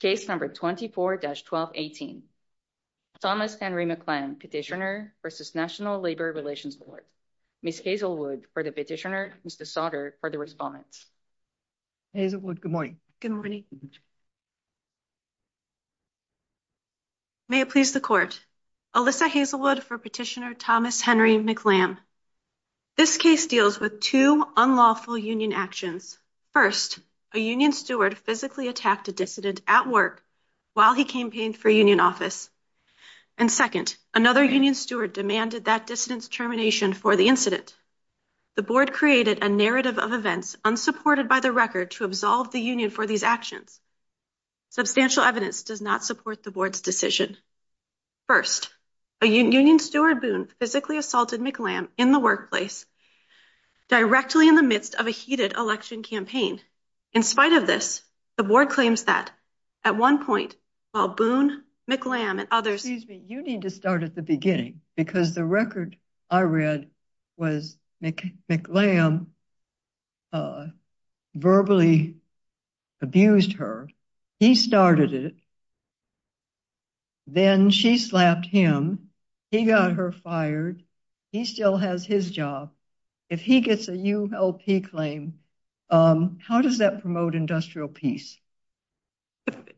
Case number 24-1218. Thomas Henry McLamb, Petitioner v. National Labor Relations Court. Ms. Hazelwood for the petitioner, Mr. Sauter for the response. Hazelwood, good morning. Good morning. May it please the Court. Alyssa Hazelwood for Petitioner Thomas Henry McLamb. This case deals with two unlawful union actions. First, a union steward physically attacked a dissident at work while he campaigned for union office. And second, another union steward demanded that dissident's termination for the incident. The board created a narrative of events unsupported by the record to absolve the union for these actions. Substantial evidence does not support the board's decision. First, a union steward, Boone, physically assaulted McLamb in the workplace directly in the midst of a heated election campaign. In spite of this, the board claims that at one point, while Boone, McLamb and others... Excuse me, you need to start at the beginning because the record I read was McLamb verbally abused her. He started it. Then she slapped him. He got her fired. He still has his job. If he gets a ULP claim, how does that promote industrial peace?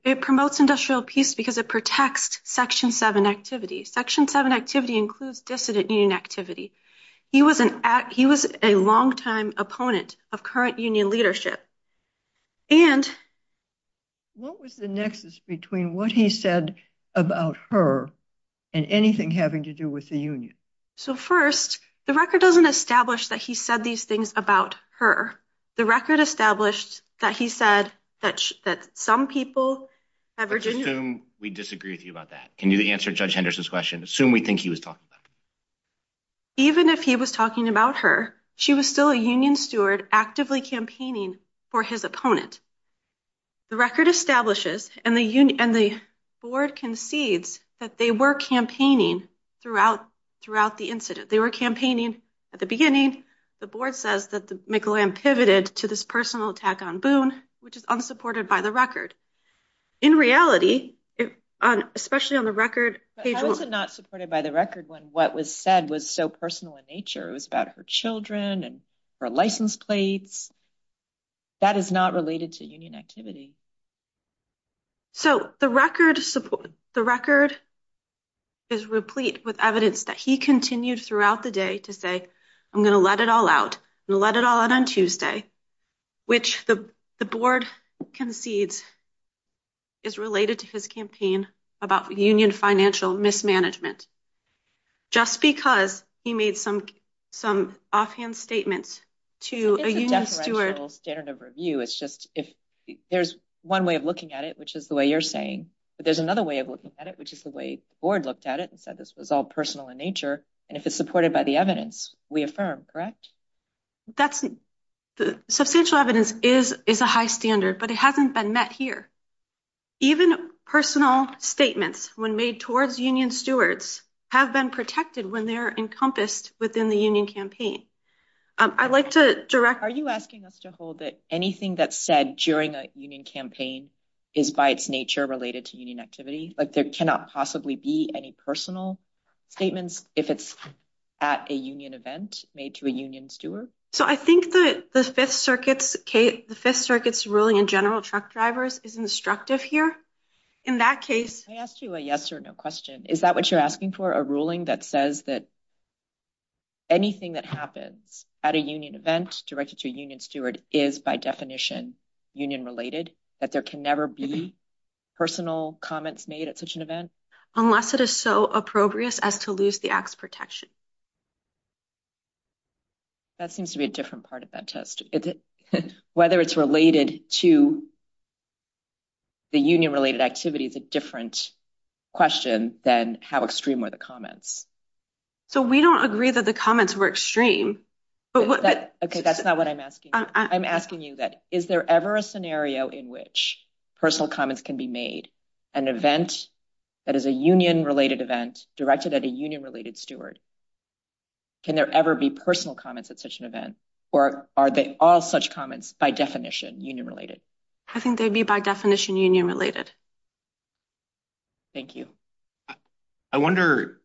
It promotes industrial peace because it protects Section 7 activity. Section 7 activity includes dissident union activity. He was a longtime opponent of current union leadership. And. What was the nexus between what he said about her and anything having to do with the union? So first, the record doesn't establish that he said these things about her. The record established that he said that that some people. We disagree with you about that. Can you answer Judge Henderson's question? Assume we think he was talking about. Even if he was talking about her, she was still a union steward, actively campaigning for his opponent. The record establishes and the board concedes that they were campaigning throughout the incident. They were campaigning at the beginning. The board says that McLamb pivoted to this personal attack on Boone, which is unsupported by the record. In reality, especially on the record. It was not supported by the record when what was said was so personal in nature. It was about her children and her license plates. That is not related to union activity. So the record, the record. Is replete with evidence that he continued throughout the day to say, I'm going to let it all out and let it all out on Tuesday, which the board concedes. Is related to his campaign about union financial mismanagement. Just because he made some some offhand statements to a union steward standard of review. It's just if there's one way of looking at it, which is the way you're saying, but there's another way of looking at it, which is the way the board looked at it and said, this was all personal in nature. And if it's supported by the evidence, we affirm. That's the substantial evidence is is a high standard, but it hasn't been met here. Even personal statements when made towards union stewards have been protected when they're encompassed within the union campaign. I'd like to direct. Are you asking us to hold that anything that's said during a union campaign is by its nature related to union activity? Like, there cannot possibly be any personal statements if it's at a union event made to a union steward. So I think that the Fifth Circuit's case, the Fifth Circuit's ruling in general, truck drivers is instructive here. In that case, I asked you a yes or no question. Is that what you're asking for? A ruling that says that. Anything that happens at a union event directed to a union steward is by definition union related, that there can never be personal comments made at such an event unless it is so appropriate as to lose the acts protection. That seems to be a different part of that test, whether it's related to. The union related activity is a different question than how extreme are the comments. So we don't agree that the comments were extreme, but that's not what I'm asking. I'm asking you that. Is there ever a scenario in which personal comments can be made? An event that is a union related event directed at a union related steward. Can there ever be personal comments at such an event or are they all such comments by definition union related? I think they'd be by definition union related. Thank you. I wonder,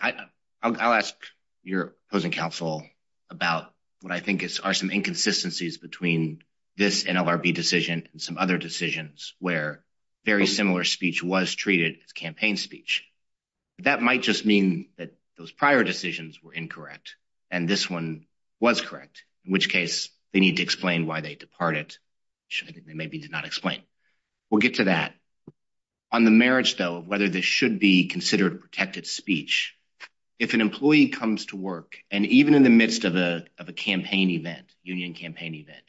I'll ask your opposing counsel about what I think are some inconsistencies between this NLRB decision and some other decisions where very similar speech was treated as campaign speech. That might just mean that those prior decisions were incorrect and this one was correct, in which case they need to explain why they departed. Maybe did not explain. We'll get to that on the marriage, though, whether this should be considered protected speech. If an employee comes to work and even in the midst of a of a campaign event, union campaign event.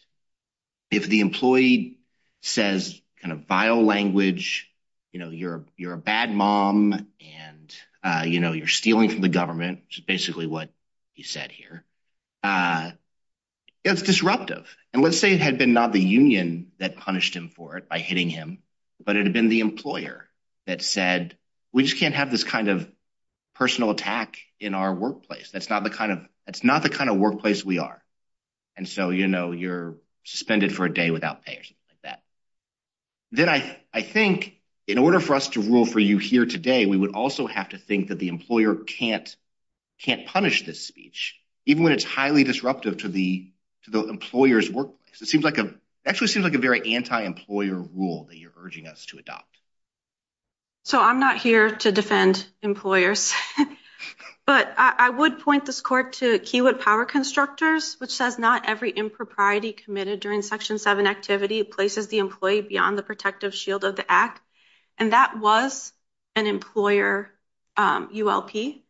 If the employee says kind of vile language, you know, you're you're a bad mom and, you know, you're stealing from the government. Which is basically what you said here. It's disruptive. And let's say it had been not the union that punished him for it by hitting him, but it had been the employer that said, we just can't have this kind of personal attack in our workplace. That's not the kind of that's not the kind of workplace we are. And so, you know, you're suspended for a day without pay or something like that. Then I think in order for us to rule for you here today, we would also have to think that the employer can't can't punish this speech, even when it's highly disruptive to the to the employer's workplace. It seems like a actually seems like a very anti-employer rule that you're urging us to adopt. So I'm not here to defend employers, but I would point this court to Keywood Power Constructors, which says not every impropriety committed during section seven activity places the employee beyond the protective shield of the act. And that was an employer ULP.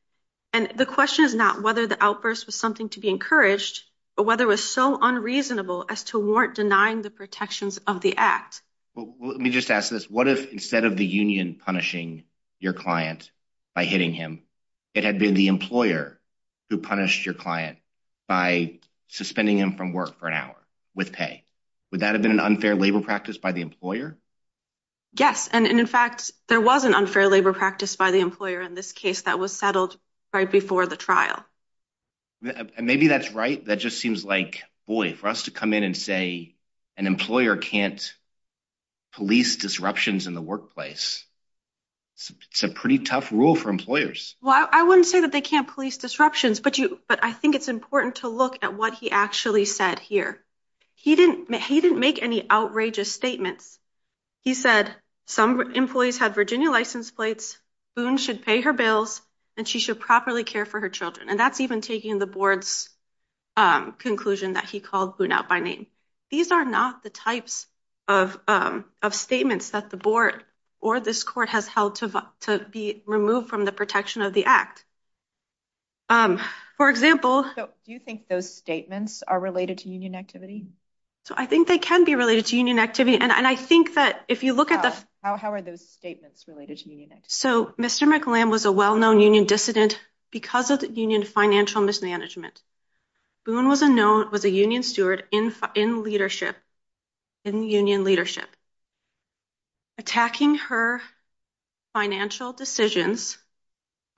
And the question is not whether the outburst was something to be encouraged, but whether it was so unreasonable as to warrant denying the protections of the act. Well, let me just ask this. What if instead of the union punishing your client by hitting him, it had been the employer who punished your client by suspending him from work for an hour with pay? Would that have been an unfair labor practice by the employer? Yes, and in fact, there was an unfair labor practice by the employer in this case that was settled right before the trial. Maybe that's right. That just seems like, boy, for us to come in and say an employer can't police disruptions in the workplace. It's a pretty tough rule for employers. Well, I wouldn't say that they can't police disruptions, but you but I think it's important to look at what he actually said here. He didn't he didn't make any outrageous statements. He said some employees had Virginia license plates. Boone should pay her bills and she should properly care for her children. And that's even taking the board's conclusion that he called out by name. These are not the types of of statements that the board or this court has held to be removed from the protection of the act. For example, do you think those statements are related to union activity? So I think they can be related to union activity. And I think that if you look at this, how are those statements related? So Mr. McCallum was a well-known union dissident because of the union financial mismanagement. Boone was a known was a union steward in in leadership in union leadership. Attacking her financial decisions,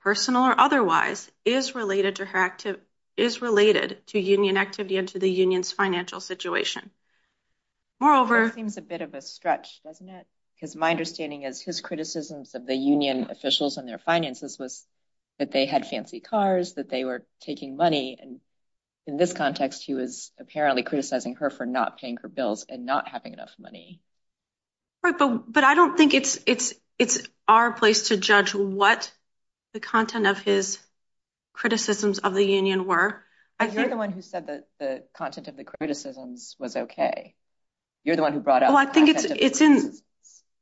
personal or otherwise, is related to her active is related to union activity and to the union's financial situation. Moreover, seems a bit of a stretch, doesn't it? Because my understanding is his criticisms of the union officials and their finances was that they had fancy cars, that they were taking money. And in this context, he was apparently criticizing her for not paying her bills and not having enough money. But but I don't think it's it's it's our place to judge what the content of his criticisms of the union were. I hear the one who said that the content of the criticisms was OK. You're the one who brought up. I think it's it's in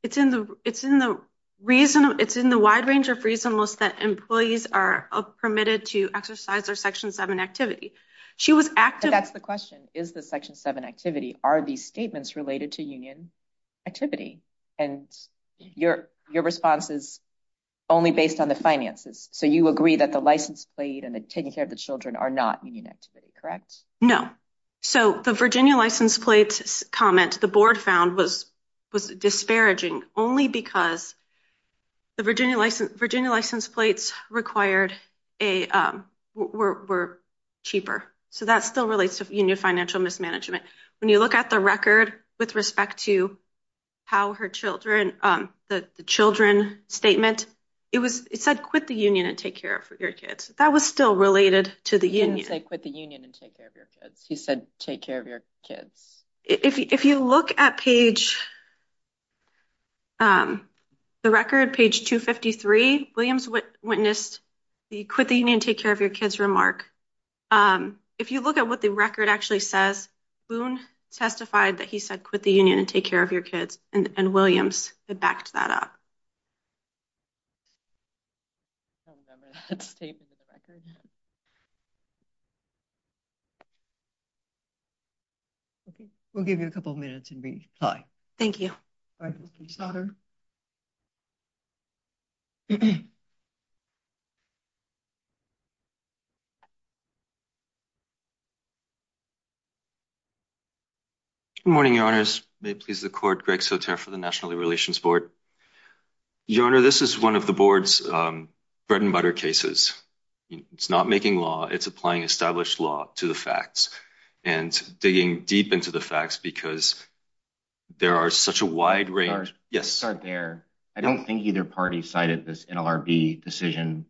it's in the it's in the reason it's in the wide range of reason. Most that employees are permitted to exercise their section seven activity. She was active. That's the question. Is the section seven activity? Are these statements related to union activity? And your your response is only based on the finances. So you agree that the license plate and taking care of the children are not union activity, correct? No. So the Virginia license plates comment the board found was was disparaging only because the Virginia license, Virginia license plates required a were cheaper. So that still relates to union financial mismanagement. When you look at the record with respect to how her children, the children statement, it was it said quit the union and take care of your kids. That was still related to the unions. They quit the union and take care of your kids. He said, take care of your kids. If you look at page. The record, page 253, Williams witnessed the quit the union, take care of your kids remark. If you look at what the record actually says, Boone testified that he said quit the union and take care of your kids. And Williams backed that up. We'll give you a couple of minutes and reply. Thank you. All right. Morning, your honors. May please the court. Greg Soter for the National Relations Board. Your honor, this is one of the board's bread and butter cases. It's not making law. It's applying established law to the facts and digging deep into the facts because there are such a wide range. Yes, sir. There I don't think either party cited this NLRB decision.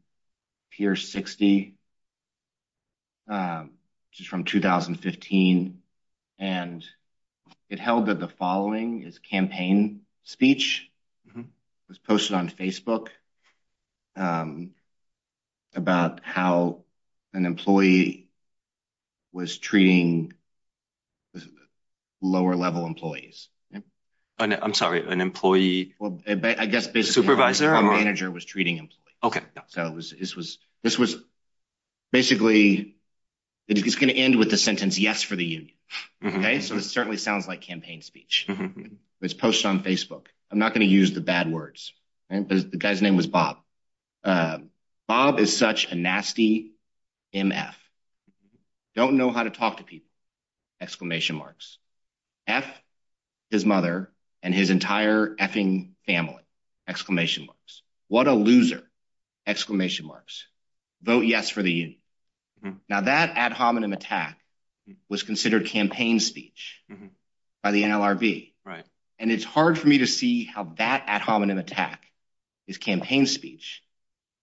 I'm sorry, an employee. Well, I guess basically supervisor or manager was treating him. Okay. So. This was basically it's going to end with the sentence. Yes. For the union. Okay. So it certainly sounds like campaign speech. It's posted on Facebook. I'm not going to use the bad words. The guy's name was Bob. Bob is such a nasty MF. Don't know how to talk to people. Exclamation marks. F his mother and his entire effing family. Exclamation marks. What a loser. Exclamation marks. Vote yes for the. Now that ad hominem attack was considered campaign speech by the NLRB. Right. And it's hard for me to see how that ad hominem attack is campaign speech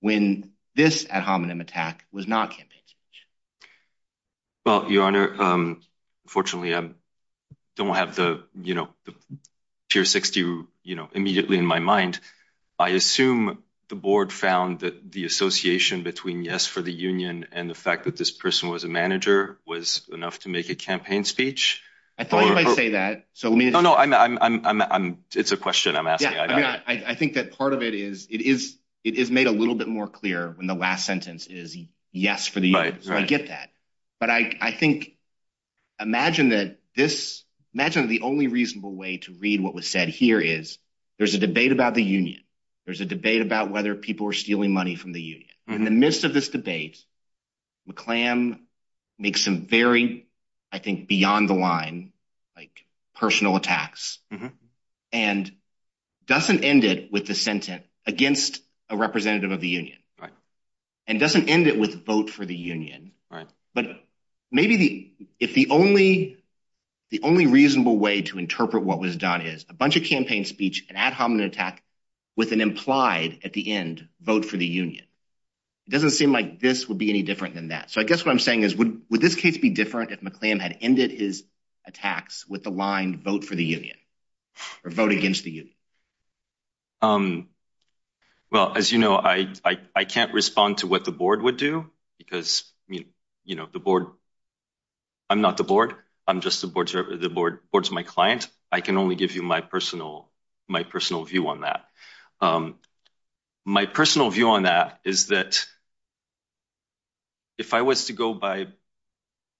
when this ad hominem attack was not campaign speech. Well, your honor, fortunately, I don't have the, you know, pure 60, you know, immediately in my mind. I assume the board found that the association between yes for the union and the fact that this person was a manager was enough to make a campaign speech. I thought you might say that. So, no, I'm it's a question I'm asking. I think that part of it is it is it is made a little bit more clear when the last sentence is yes for the right to get that. But I think imagine that this imagine the only reasonable way to read what was said here is there's a debate about the union. There's a debate about whether people are stealing money from the union in the midst of this debate. McClam makes some very, I think, beyond the line, like personal attacks and doesn't end it with the sentence against a representative of the union. Right. And doesn't end it with vote for the union. Right. But maybe the if the only the only reasonable way to interpret what was done is a bunch of campaign speech, an ad hominem attack with an implied at the end vote for the union. It doesn't seem like this would be any different than that. So I guess what I'm saying is, would this case be different if McClam had ended his attacks with the line vote for the union or vote against the union? Well, as you know, I, I can't respond to what the board would do because, you know, the board. I'm not the board. I'm just the board, the board boards, my client. I can only give you my personal my personal view on that. My personal view on that is that. If I was to go by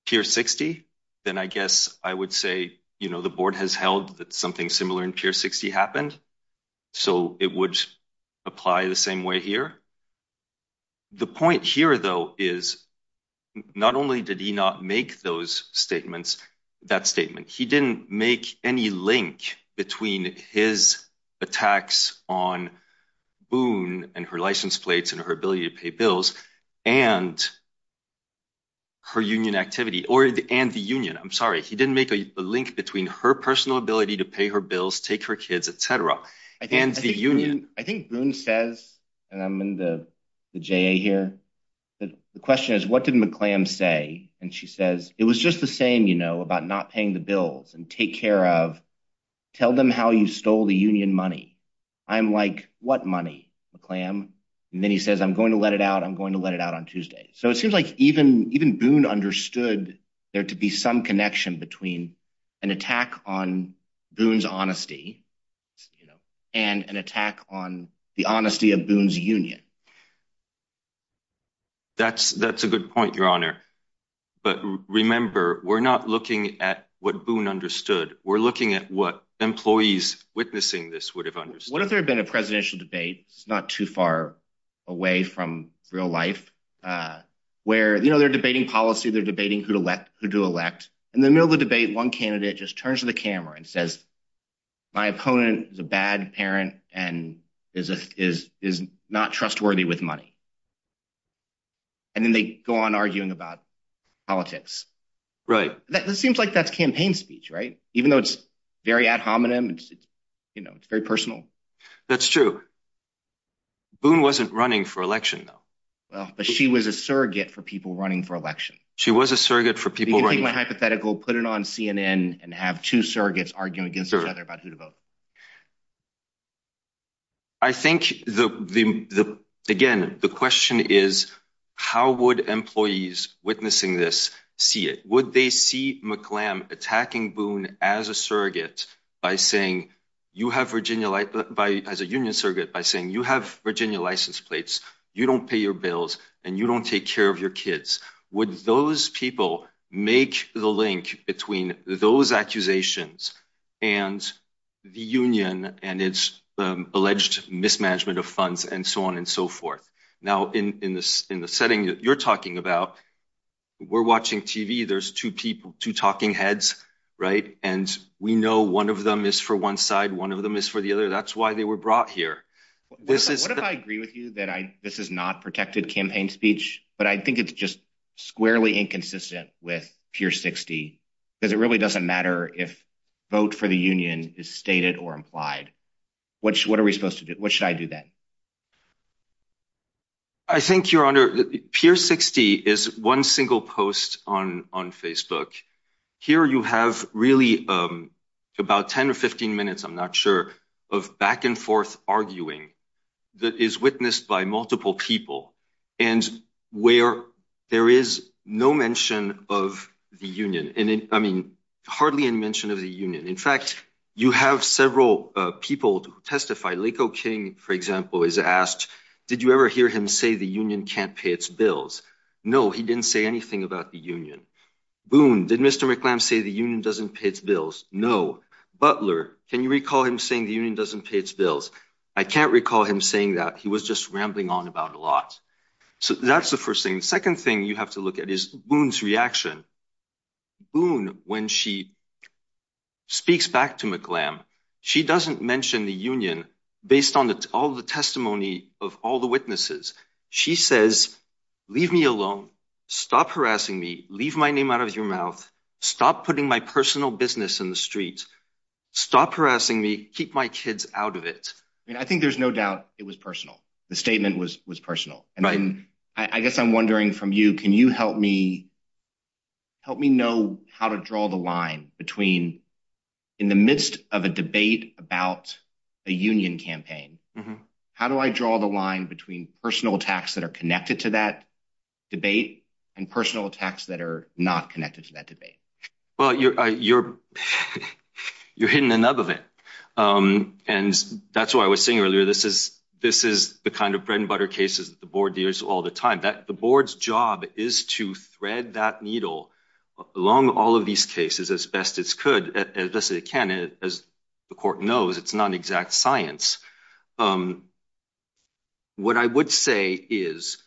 here, 60, then I guess I would say, you know, the board has held that something similar in pure 60 happened. So it would apply the same way here. The point here, though, is not only did he not make those statements, that statement, he didn't make any link between his attacks on Boone and her license plates and her ability to pay bills and. Her union activity or and the union, I'm sorry, he didn't make a link between her personal ability to pay her bills, take her kids, etc. I think Boone says, and I'm in the J.A. here. The question is, what did McClam say? And she says it was just the same, you know, about not paying the bills and take care of tell them how you stole the union money. I'm like, what money, McClam? And then he says, I'm going to let it out. I'm going to let it out on Tuesday. So it seems like even even Boone understood there to be some connection between an attack on Boone's honesty and an attack on the honesty of Boone's union. That's that's a good point, your honor. But remember, we're not looking at what Boone understood. We're looking at what employees witnessing this would have understood. What if there had been a presidential debate? It's not too far away from real life where, you know, they're debating policy, they're debating who to elect, who to elect in the middle of the debate. One candidate just turns to the camera and says, my opponent is a bad parent and is is is not trustworthy with money. And then they go on arguing about politics, right? That seems like that's campaign speech, right? Even though it's very ad hominem, it's, you know, it's very personal. That's true. Boone wasn't running for election, though. Well, but she was a surrogate for people running for election. She was a surrogate for people hypothetical. Put it on CNN and have two surrogates arguing against each other about who to vote. I think the the the again, the question is, how would employees witnessing this see it? Would they see McClam attacking Boone as a surrogate by saying you have Virginia as a union surrogate, by saying you have Virginia license plates, you don't pay your bills and you don't take care of your kids? Would those people make the link between those accusations and the union and its alleged mismanagement of funds and so on and so forth? Now, in this in the setting that you're talking about, we're watching TV. There's two people, two talking heads. Right. And we know one of them is for one side. One of them is for the other. That's why they were brought here. This is what I agree with you that this is not protected campaign speech, but I think it's just squarely inconsistent with pure 60 because it really doesn't matter if vote for the union is stated or implied. What are we supposed to do? What should I do then? I think you're under pure 60 is one single post on on Facebook. Here you have really about 10 or 15 minutes. I'm not sure of back and forth arguing that is witnessed by multiple people and where there is no mention of the union. And I mean, hardly any mention of the union. In fact, you have several people to testify. Laco King, for example, is asked, did you ever hear him say the union can't pay its bills? No, he didn't say anything about the union. Boone, did Mr. McClam say the union doesn't pay its bills? No. Butler, can you recall him saying the union doesn't pay its bills? I can't recall him saying that he was just rambling on about a lot. So that's the first thing. The second thing you have to look at is Boone's reaction. Boone, when she speaks back to McClam, she doesn't mention the union based on all the testimony of all the witnesses. She says, leave me alone. Stop harassing me. Leave my name out of your mouth. Stop putting my personal business in the streets. Stop harassing me. Keep my kids out of it. I think there's no doubt it was personal. The statement was was personal. I guess I'm wondering from you, can you help me? Help me know how to draw the line between in the midst of a debate about a union campaign. How do I draw the line between personal attacks that are connected to that debate and personal attacks that are not connected to that debate? Well, you're you're you're hitting the nub of it. And that's what I was saying earlier. This is this is the kind of bread and butter cases that the board deals with all the time. The board's job is to thread that needle along all of these cases as best as it can. As the court knows, it's not an exact science. What I would say is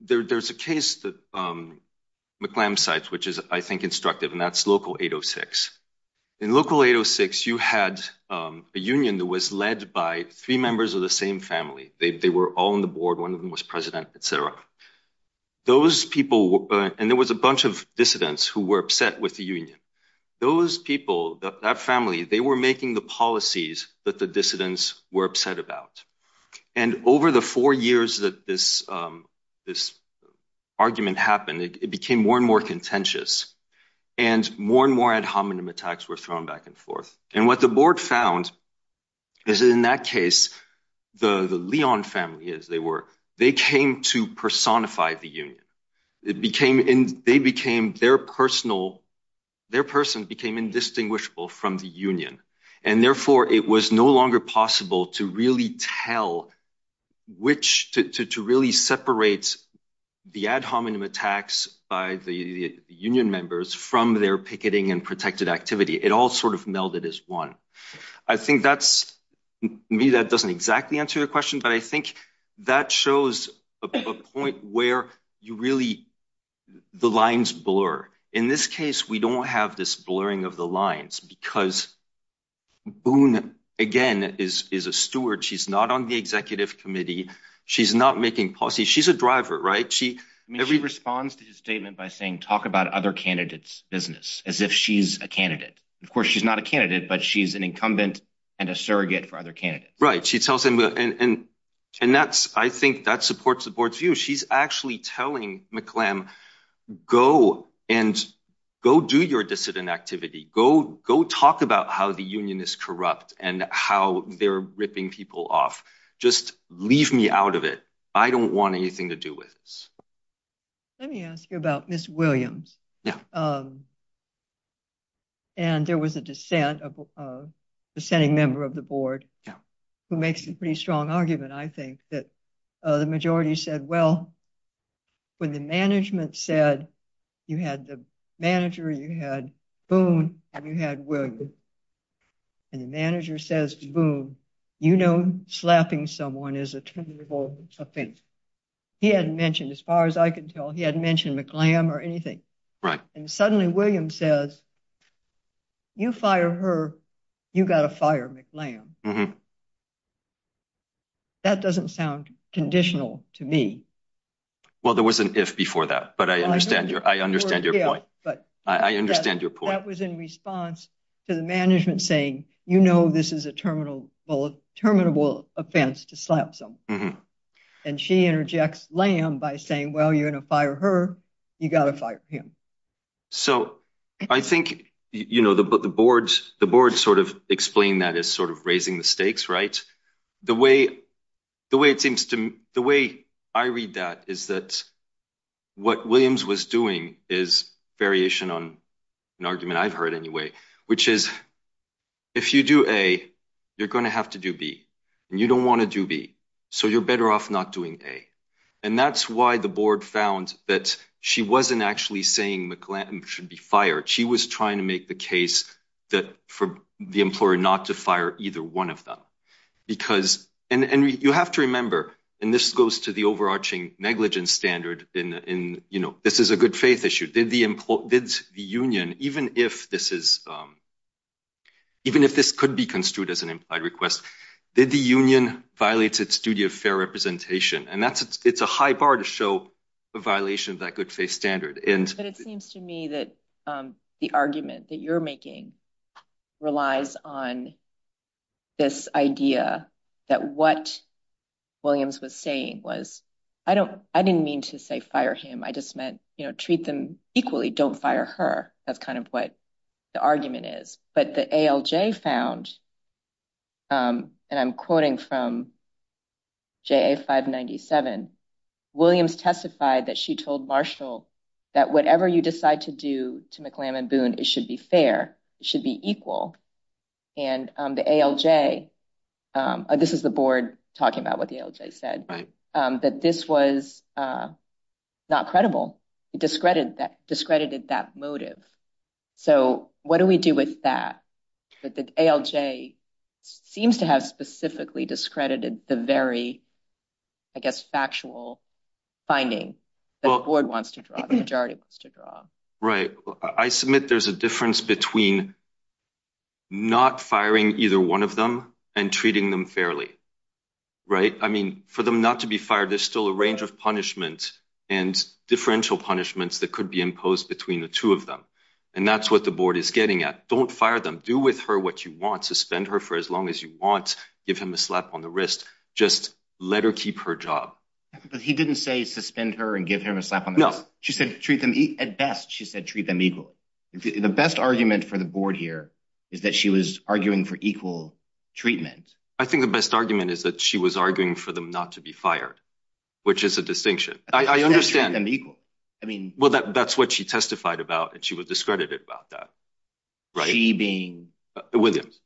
there's a case that McClam cites, which is, I think, instructive, and that's Local 806. In Local 806, you had a union that was led by three members of the same family. They were all on the board. One of them was president, etc. Those people and there was a bunch of dissidents who were upset with the union. Those people, that family, they were making the policies that the dissidents were upset about. And over the four years that this this argument happened, it became more and more contentious. And more and more ad hominem attacks were thrown back and forth. And what the board found is that in that case, the Leon family, as they were, they came to personify the union. It became and they became their personal, their person became indistinguishable from the union. And therefore, it was no longer possible to really tell which to really separate the ad hominem attacks by the union members from their picketing and protected activity. It all sort of melded as one. I think that's me. That doesn't exactly answer your question, but I think that shows a point where you really the lines blur. In this case, we don't have this blurring of the lines because Boone, again, is is a steward. She's not on the executive committee. She's not making policy. She's a driver, right? She responds to his statement by saying, talk about other candidates business as if she's a candidate. Of course, she's not a candidate, but she's an incumbent and a surrogate for other candidates. Right. She tells him. And and that's I think that supports the board's view. She's actually telling McClam go and go do your dissident activity. Go go talk about how the union is corrupt and how they're ripping people off. Just leave me out of it. I don't want anything to do with this. Let me ask you about Miss Williams. Yeah. And there was a dissent of the sending member of the board who makes a pretty strong argument. I think that the majority said, well, when the management said you had the manager, you had Boone and you had. And the manager says, boom, you know, slapping someone is a terrible thing. He had mentioned as far as I can tell, he had mentioned McClam or anything. And suddenly, William says. You fire her. You got to fire McClain. That doesn't sound conditional to me. Well, there was an if before that. But I understand your I understand your point. But I understand your point was in response to the management saying, you know, this is a terminal terminable offense to slap some. Mm hmm. And she interjects lamb by saying, well, you're going to fire her. You got to fire him. So I think, you know, the boards, the boards sort of explain that as sort of raising the stakes. Right. The way the way it seems to the way I read that is that what Williams was doing is variation on an argument I've heard anyway, which is if you do a you're going to have to do B. And you don't want to do B. So you're better off not doing a. And that's why the board found that she wasn't actually saying McClain should be fired. She was trying to make the case that for the employer not to fire either one of them, because and you have to remember. And this goes to the overarching negligence standard. And, you know, this is a good faith issue. The union, even if this is even if this could be construed as an implied request, the union violates its duty of fair representation. And that's it's a high bar to show a violation of that good faith standard. But it seems to me that the argument that you're making relies on this idea that what Williams was saying was I don't I didn't mean to say fire him. I just meant, you know, treat them equally. Don't fire her. That's kind of what the argument is. But the ALJ found. And I'm quoting from. Five ninety seven. Williams testified that she told Marshall that whatever you decide to do to McClain and Boone, it should be fair, should be equal. And the ALJ. This is the board talking about what the ALJ said that this was not credible, discredited that discredited that motive. So what do we do with that? But the ALJ seems to have specifically discredited the very, I guess, factual finding that the board wants to draw the majority wants to draw. Right. I submit there's a difference between. Not firing either one of them and treating them fairly. Right. I mean, for them not to be fired, there's still a range of punishment and differential punishments that could be imposed between the two of them. And that's what the board is getting at. Don't fire them. Do with her what you want to spend her for as long as you want. Give him a slap on the wrist. Just let her keep her job. But he didn't say suspend her and give him a slap. No. She said treat them at best. She said treat them equally. The best argument for the board here is that she was arguing for equal treatment. I think the best argument is that she was arguing for them not to be fired, which is a distinction. I understand them equal. I mean, well, that's what she testified about. And she was discredited about that. Right. She being Williams.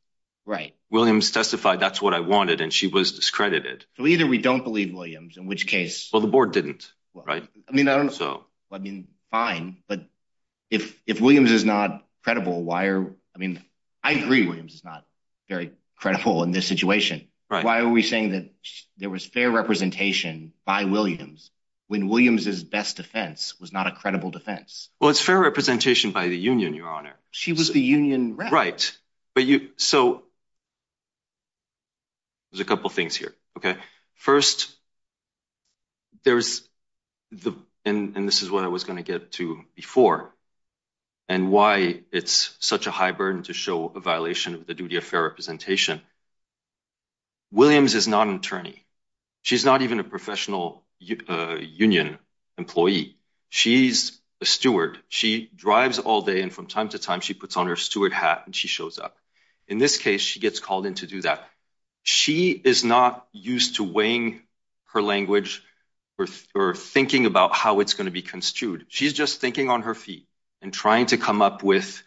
Right. Williams testified. That's what I wanted. And she was discredited. So either we don't believe Williams, in which case. Well, the board didn't. Right. I mean, I don't know. So, I mean, fine. But if if Williams is not credible, why are I mean, I agree. Williams is not very credible in this situation. Why are we saying that there was fair representation by Williams when Williams is best defense was not a credible defense? Well, it's fair representation by the union. Your honor. She was the union. Right. But you so. There's a couple of things here. Okay. First, there's the and this is what I was going to get to before. And why it's such a high burden to show a violation of the duty of fair representation. Williams is not an attorney. She's not even a professional union employee. She's a steward. She drives all day. And from time to time, she puts on her steward hat and she shows up. In this case, she gets called in to do that. She is not used to weighing her language or thinking about how it's going to be construed. She's just thinking on her feet and trying to come up with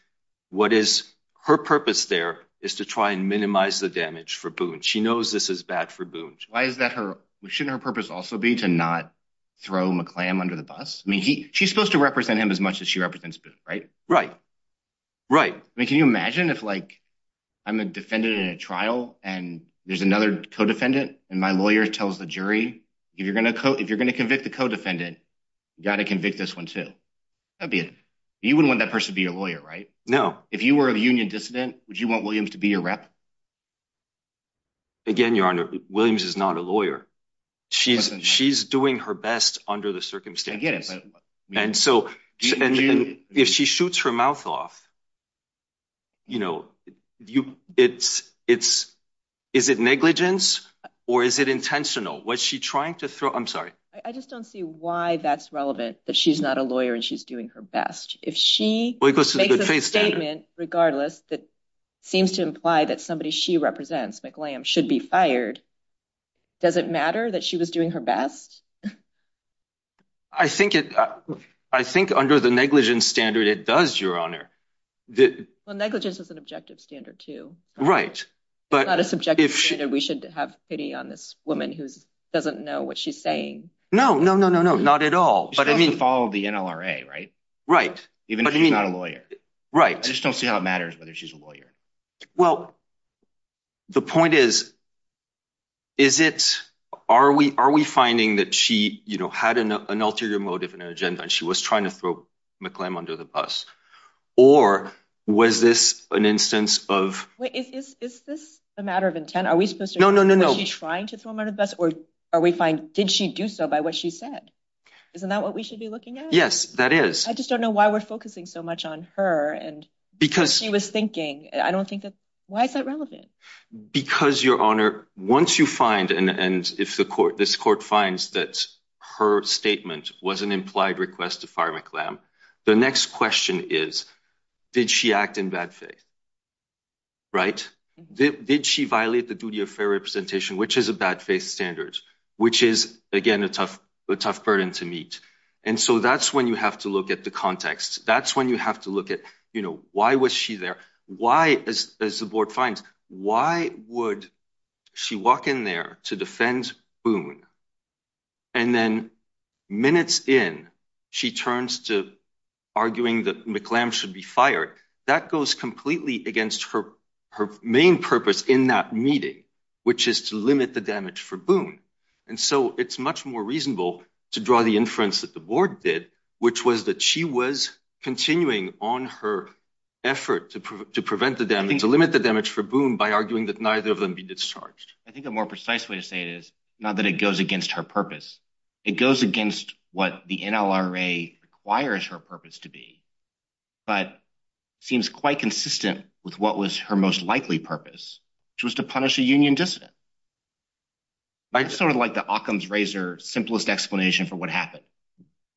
what is her purpose there is to try and minimize the damage for Boone. She knows this is bad for Boone. Why is that her? Shouldn't her purpose also be to not throw McClam under the bus? I mean, she's supposed to represent him as much as she represents. Right. Right. Right. I mean, can you imagine if, like, I'm a defendant in a trial and there's another co-defendant and my lawyer tells the jury, if you're going to if you're going to convict the co-defendant, you got to convict this one, too. That'd be it. You wouldn't want that person to be your lawyer, right? No. If you were a union dissident, would you want Williams to be your rep? Again, Your Honor, Williams is not a lawyer. She's she's doing her best under the circumstances. And so if she shoots her mouth off. You know, you it's it's is it negligence or is it intentional? Was she trying to throw I'm sorry, I just don't see why that's relevant, that she's not a lawyer and she's doing her best. If she makes a statement regardless, that seems to imply that somebody she represents, McClam, should be fired. Does it matter that she was doing her best? I think it I think under the negligence standard, it does, Your Honor. The negligence is an objective standard, too. Right. But not a subjective standard. We should have pity on this woman who doesn't know what she's saying. No, no, no, no, no. Not at all. But I mean, follow the NLRA. Right. Right. Even if you're not a lawyer. Right. I just don't see how it matters whether she's a lawyer. Well, the point is. Is it are we are we finding that she had an ulterior motive in her agenda and she was trying to throw McClam under the bus? Or was this an instance of. Is this a matter of intent? Was she trying to throw him under the bus or are we find did she do so by what she said? Isn't that what we should be looking at? Yes, that is. I just don't know why we're focusing so much on her. And because she was thinking, I don't think that. Why is that relevant? Because, Your Honor, once you find and if the court, this court finds that her statement was an implied request to fire McClam, the next question is, did she act in bad faith? Right. Did she violate the duty of fair representation, which is a bad faith standard, which is, again, a tough, tough burden to meet. And so that's when you have to look at the context. That's when you have to look at, you know, why was she there? Why, as the board finds, why would she walk in there to defend Boone? And then minutes in, she turns to arguing that McClam should be fired. That goes completely against her her main purpose in that meeting, which is to limit the damage for Boone. And so it's much more reasonable to draw the inference that the board did, which was that she was continuing on her effort to prevent the damage, to limit the damage for Boone by arguing that neither of them be discharged. I think a more precise way to say it is not that it goes against her purpose. It goes against what the NLRA requires her purpose to be, but seems quite consistent with what was her most likely purpose, which was to punish a union dissident. I sort of like the Occam's razor simplest explanation for what happened.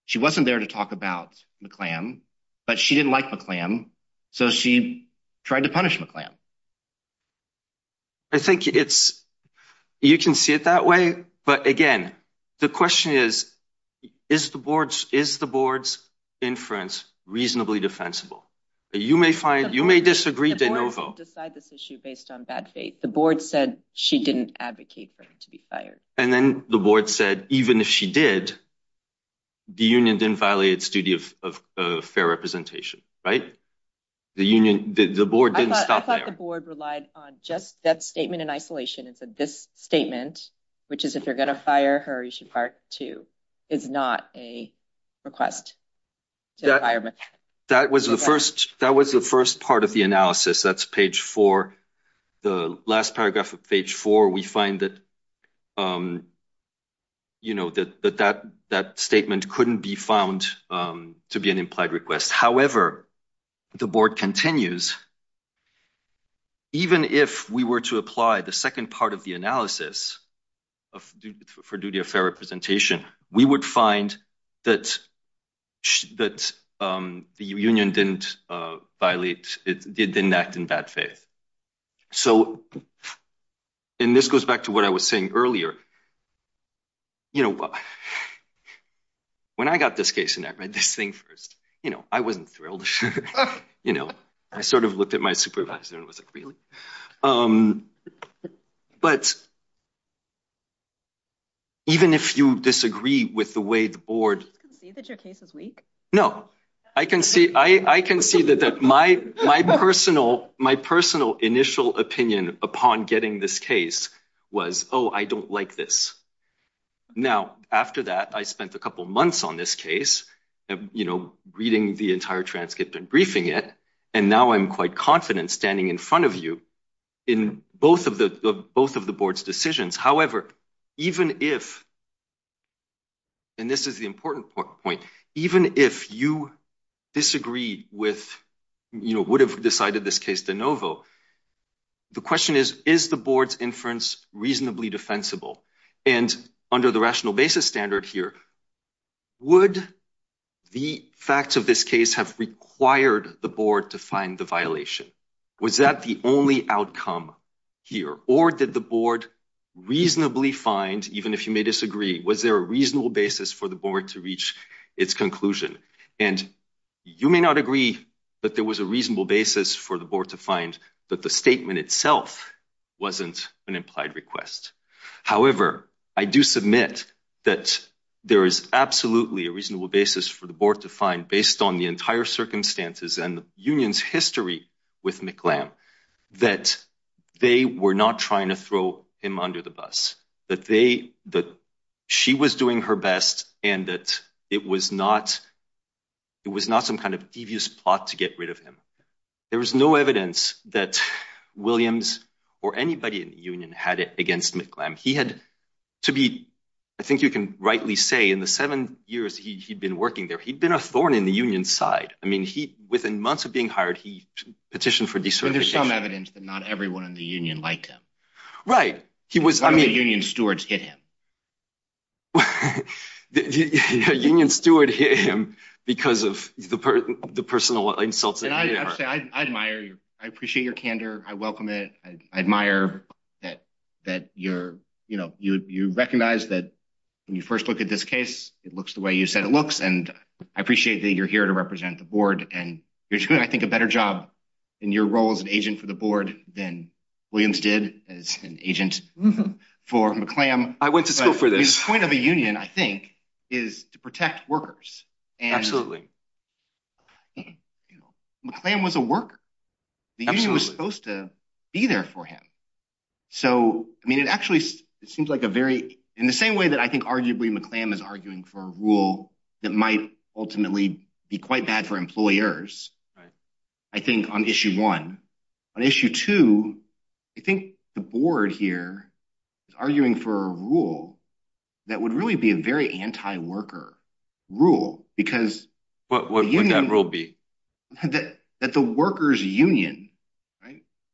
She wasn't there to talk about McClam, but she didn't like McClam. So she tried to punish McClam. I think it's you can see it that way. But again, the question is, is the board's is the board's inference reasonably defensible? You may find you may disagree to decide this issue based on bad faith. The board said she didn't advocate for him to be fired. And then the board said, even if she did, the union didn't violate its duty of fair representation. Right. The union, the board didn't stop. I thought the board relied on just that statement in isolation. And so this statement, which is if you're going to fire her, you should part two is not a request. That was the first that was the first part of the analysis. That's page for the last paragraph of page four. We find that, you know, that that that statement couldn't be found to be an implied request. However, the board continues. Even if we were to apply the second part of the analysis for duty of fair representation, we would find that that the union didn't violate it, didn't act in bad faith. So. And this goes back to what I was saying earlier. You know. When I got this case and I read this thing first, you know, I wasn't thrilled. You know, I sort of looked at my supervisor and was like, really? But. Even if you disagree with the way the board can see that your case is weak. No, I can see I can see that my my personal my personal initial opinion upon getting this case was, oh, I don't like this. Now, after that, I spent a couple of months on this case, you know, reading the entire transcript and briefing it. And now I'm quite confident standing in front of you in both of the both of the board's decisions. However, even if. And this is the important point. Even if you disagree with, you know, would have decided this case de novo. The question is, is the board's inference reasonably defensible and under the rational basis standard here? Would the facts of this case have required the board to find the violation? Was that the only outcome here, or did the board reasonably find, even if you may disagree, was there a reasonable basis for the board to reach its conclusion? And you may not agree, but there was a reasonable basis for the board to find that the statement itself wasn't an implied request. However, I do submit that there is absolutely a reasonable basis for the board to find, based on the entire circumstances and the union's history with McClam, that they were not trying to throw him under the bus. That they that she was doing her best and that it was not. It was not some kind of devious plot to get rid of him. There was no evidence that Williams or anybody in the union had it against McClam. He had to be, I think you can rightly say, in the seven years he'd been working there, he'd been a thorn in the union side. I mean, he, within months of being hired, he petitioned for desert. There's some evidence that not everyone in the union liked him, right? He was a union stewards hit him. The union steward hit him because of the personal insults. I admire you. I appreciate your candor. I welcome it. I admire that that you're, you know, you recognize that when you first look at this case, it looks the way you said it looks. And I appreciate that you're here to represent the board. And you're doing, I think, a better job in your role as an agent for the board than Williams did as an agent for McClam. I went to school for this point of a union, I think, is to protect workers. Absolutely. McClam was a worker. The union was supposed to be there for him. So, I mean, it actually seems like a very, in the same way that I think arguably McClam is arguing for a rule that might ultimately be quite bad for employers. Right. I think on issue one. On issue two, I think the board here is arguing for a rule that would really be a very anti-worker rule. What would that rule be? That the workers union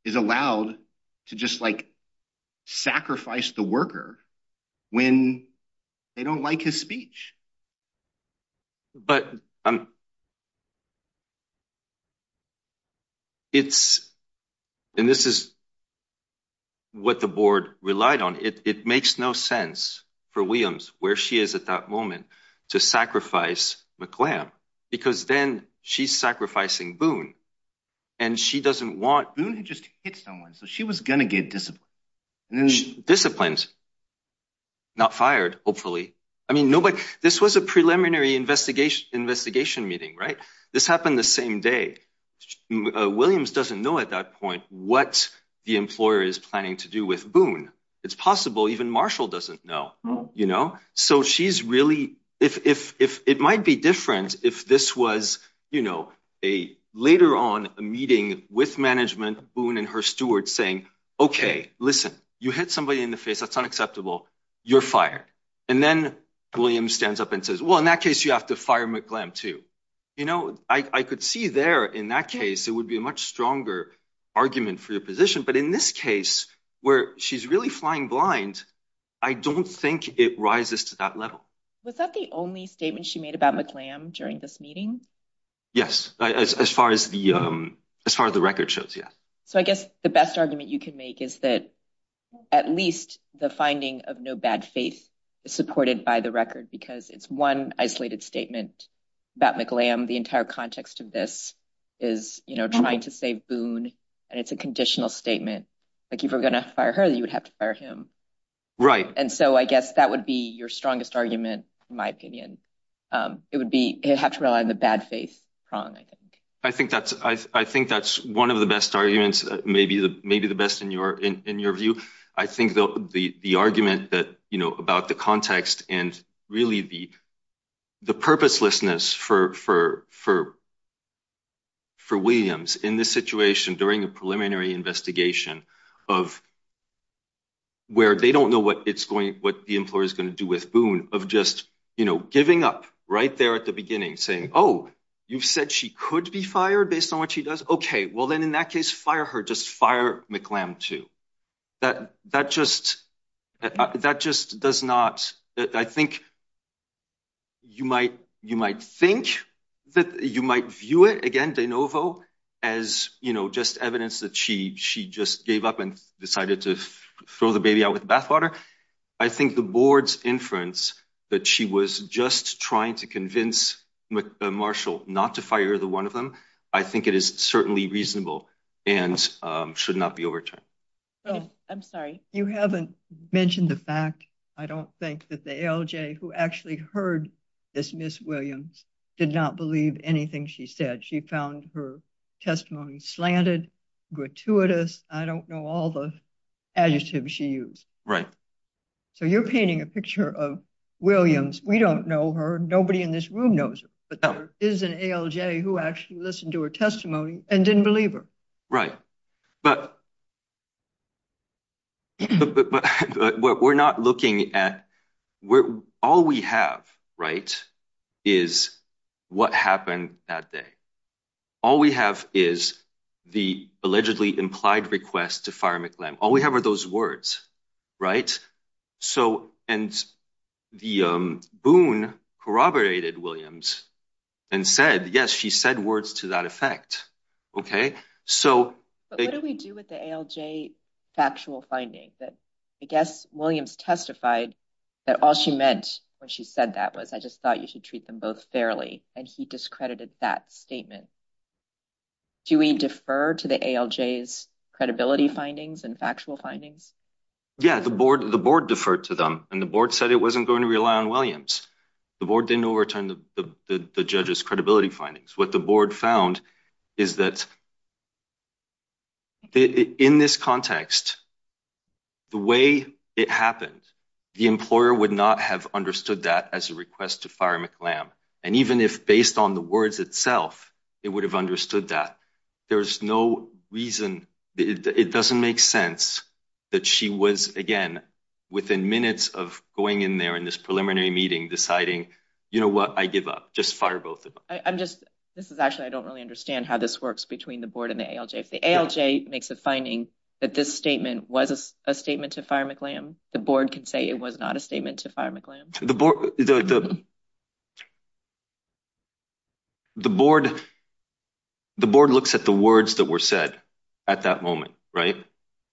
is allowed to just, like, sacrifice the worker when they don't like his speech. But, it's, and this is what the board relied on. It makes no sense for Williams, where she is at that moment, to sacrifice McClam. Because then she's sacrificing Boone. And she doesn't want. Boone had just hit someone, so she was going to get disciplined. Disciplined. Not fired, hopefully. I mean, this was a preliminary investigation meeting, right? This happened the same day. Williams doesn't know at that point what the employer is planning to do with Boone. It's possible even Marshall doesn't know. You know? So, she's really, it might be different if this was, you know, a later on meeting with management, Boone and her stewards saying, okay, listen. You hit somebody in the face. That's unacceptable. You're fired. And then Williams stands up and says, well, in that case, you have to fire McClam, too. You know? I could see there, in that case, it would be a much stronger argument for your position. But in this case, where she's really flying blind, I don't think it rises to that level. Was that the only statement she made about McClam during this meeting? Yes. As far as the record shows, yes. So, I guess the best argument you can make is that at least the finding of no bad faith is supported by the record because it's one isolated statement about McClam. The entire context of this is, you know, trying to save Boone. And it's a conditional statement. Like, if you were going to fire her, you would have to fire him. Right. And so, I guess that would be your strongest argument, in my opinion. It would have to rely on the bad faith prong, I think. I think that's one of the best arguments, maybe the best in your view. I think the argument that, you know, about the context and really the purposelessness for Williams in this situation during a preliminary investigation of where they don't know what the employer is going to do with Boone, of just, you know, giving up right there at the beginning, saying, oh, you've said she could be fired based on what she does? Okay. Well, then, in that case, fire her. Just fire McClam, too. That just does not – I think you might think that you might view it, again, de novo, as, you know, just evidence that she just gave up and decided to throw the baby out with bathwater. I think the board's inference that she was just trying to convince Marshall not to fire the one of them, I think it is certainly reasonable and should not be overturned. Oh, I'm sorry. You haven't mentioned the fact, I don't think, that the ALJ, who actually heard this Miss Williams, did not believe anything she said. She found her testimony slanted, gratuitous. I don't know all the adjectives she used. Right. So you're painting a picture of Williams. We don't know her. Nobody in this room knows her. But there is an ALJ who actually listened to her testimony and didn't believe her. Right. But we're not looking at – all we have, right, is what happened that day. All we have is the allegedly implied request to fire McClam. All we have are those words. So – and the boon corroborated Williams and said, yes, she said words to that effect. Okay. So – But what do we do with the ALJ factual finding? I guess Williams testified that all she meant when she said that was I just thought you should treat them both fairly. And he discredited that statement. Do we defer to the ALJ's credibility findings and factual findings? Yeah. The board deferred to them. And the board said it wasn't going to rely on Williams. The board didn't overturn the judge's credibility findings. What the board found is that in this context, the way it happened, the employer would not have understood that as a request to fire McClam. And even if based on the words itself, it would have understood that. There's no reason – it doesn't make sense that she was, again, within minutes of going in there in this preliminary meeting deciding, you know what, I give up. Just fire both of them. I'm just – this is actually – I don't really understand how this works between the board and the ALJ. If the ALJ makes a finding that this statement was a statement to fire McClam, the board can say it was not a statement to fire McClam. The board – the board looks at the words that were said at that moment, right?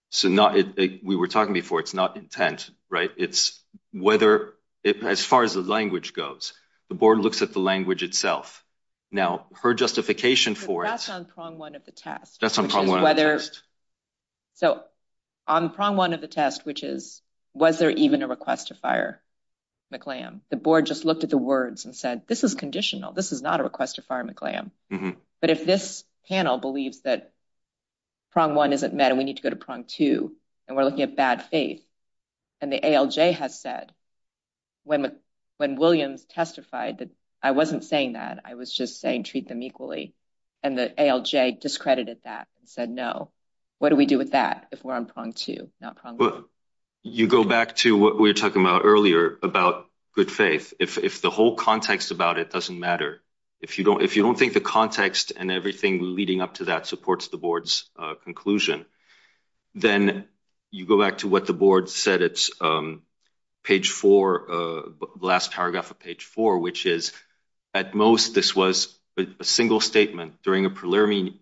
So not – we were talking before. It's not intent, right? It's whether – as far as the language goes, the board looks at the language itself. Now, her justification for it – That's on prong one of the test. That's on prong one of the test. So on prong one of the test, which is was there even a request to fire McClam, the board just looked at the words and said, this is conditional. This is not a request to fire McClam. But if this panel believes that prong one isn't met and we need to go to prong two and we're looking at bad faith, and the ALJ has said – When Williams testified, I wasn't saying that. I was just saying treat them equally. And the ALJ discredited that and said no. What do we do with that if we're on prong two, not prong one? You go back to what we were talking about earlier about good faith. If the whole context about it doesn't matter, if you don't think the context and everything leading up to that supports the board's conclusion, then you go back to what the board said at page four, the last paragraph of page four, which is at most this was a single statement during a preliminary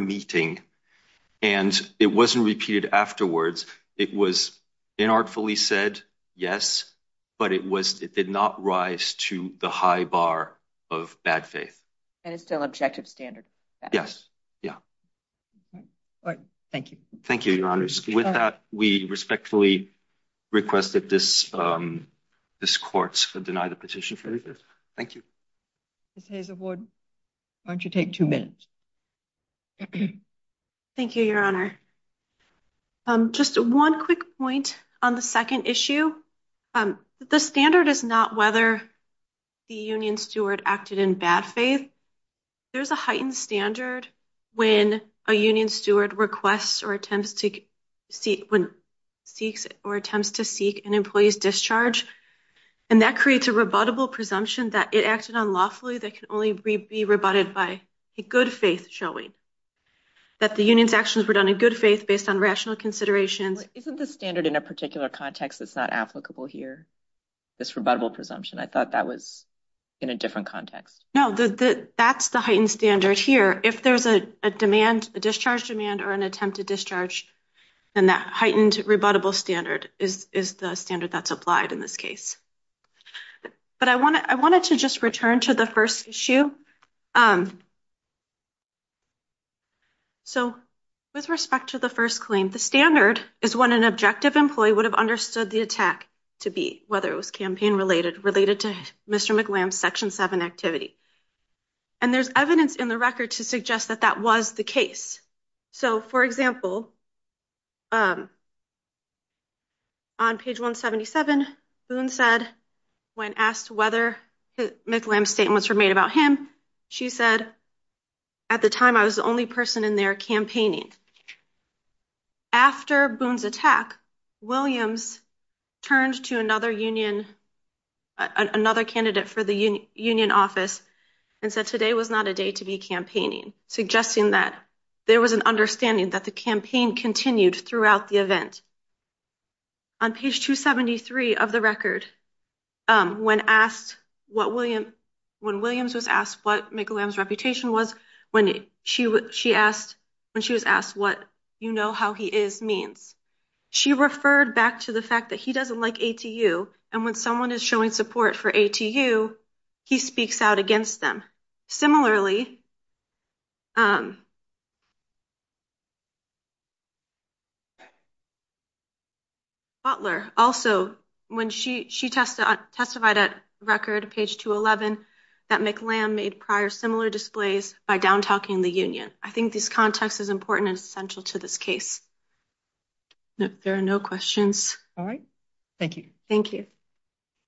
meeting. And it wasn't repeated afterwards. It was inartfully said, yes, but it did not rise to the high bar of bad faith. And it's still objective standard. Yes. Yeah. All right. Thank you. Thank you, Your Honors. With that, we respectfully request that this court deny the petition. Thank you. Ms. Hazelwood, why don't you take two minutes? Thank you, Your Honor. Just one quick point on the second issue. The standard is not whether the union steward acted in bad faith. There's a heightened standard when a union steward requests or attempts to seek an employee's discharge. And that creates a rebuttable presumption that it acted unlawfully that can only be rebutted by a good faith showing that the union's actions were done in good faith based on rational considerations. Isn't the standard in a particular context that's not applicable here, this rebuttable presumption? I thought that was in a different context. No, that's the heightened standard here. If there's a demand, a discharge demand or an attempt to discharge, then that heightened rebuttable standard is the standard that's applied in this case. But I wanted to just return to the first issue. So with respect to the first claim, the standard is what an objective employee would have understood the attack to be, whether it was campaign related, related to Mr. McLam section seven activity. And there's evidence in the record to suggest that that was the case. So, for example. On page 177, Boone said when asked whether McLam statements were made about him, she said. At the time, I was the only person in there campaigning. After Boone's attack, Williams turned to another union, another candidate for the union office and said today was not a day to be campaigning, suggesting that there was an understanding that the campaign continued throughout the event. On page 273 of the record, when Williams was asked what McLam's reputation was, when she was asked what you know how he is means, she referred back to the fact that he doesn't like ATU. And when someone is showing support for ATU, he speaks out against them. Similarly. Butler also when she she tested testified at record page 211 that McLam made prior similar displays by down talking the union. I think this context is important and essential to this case. There are no questions. All right. Thank you. Thank you.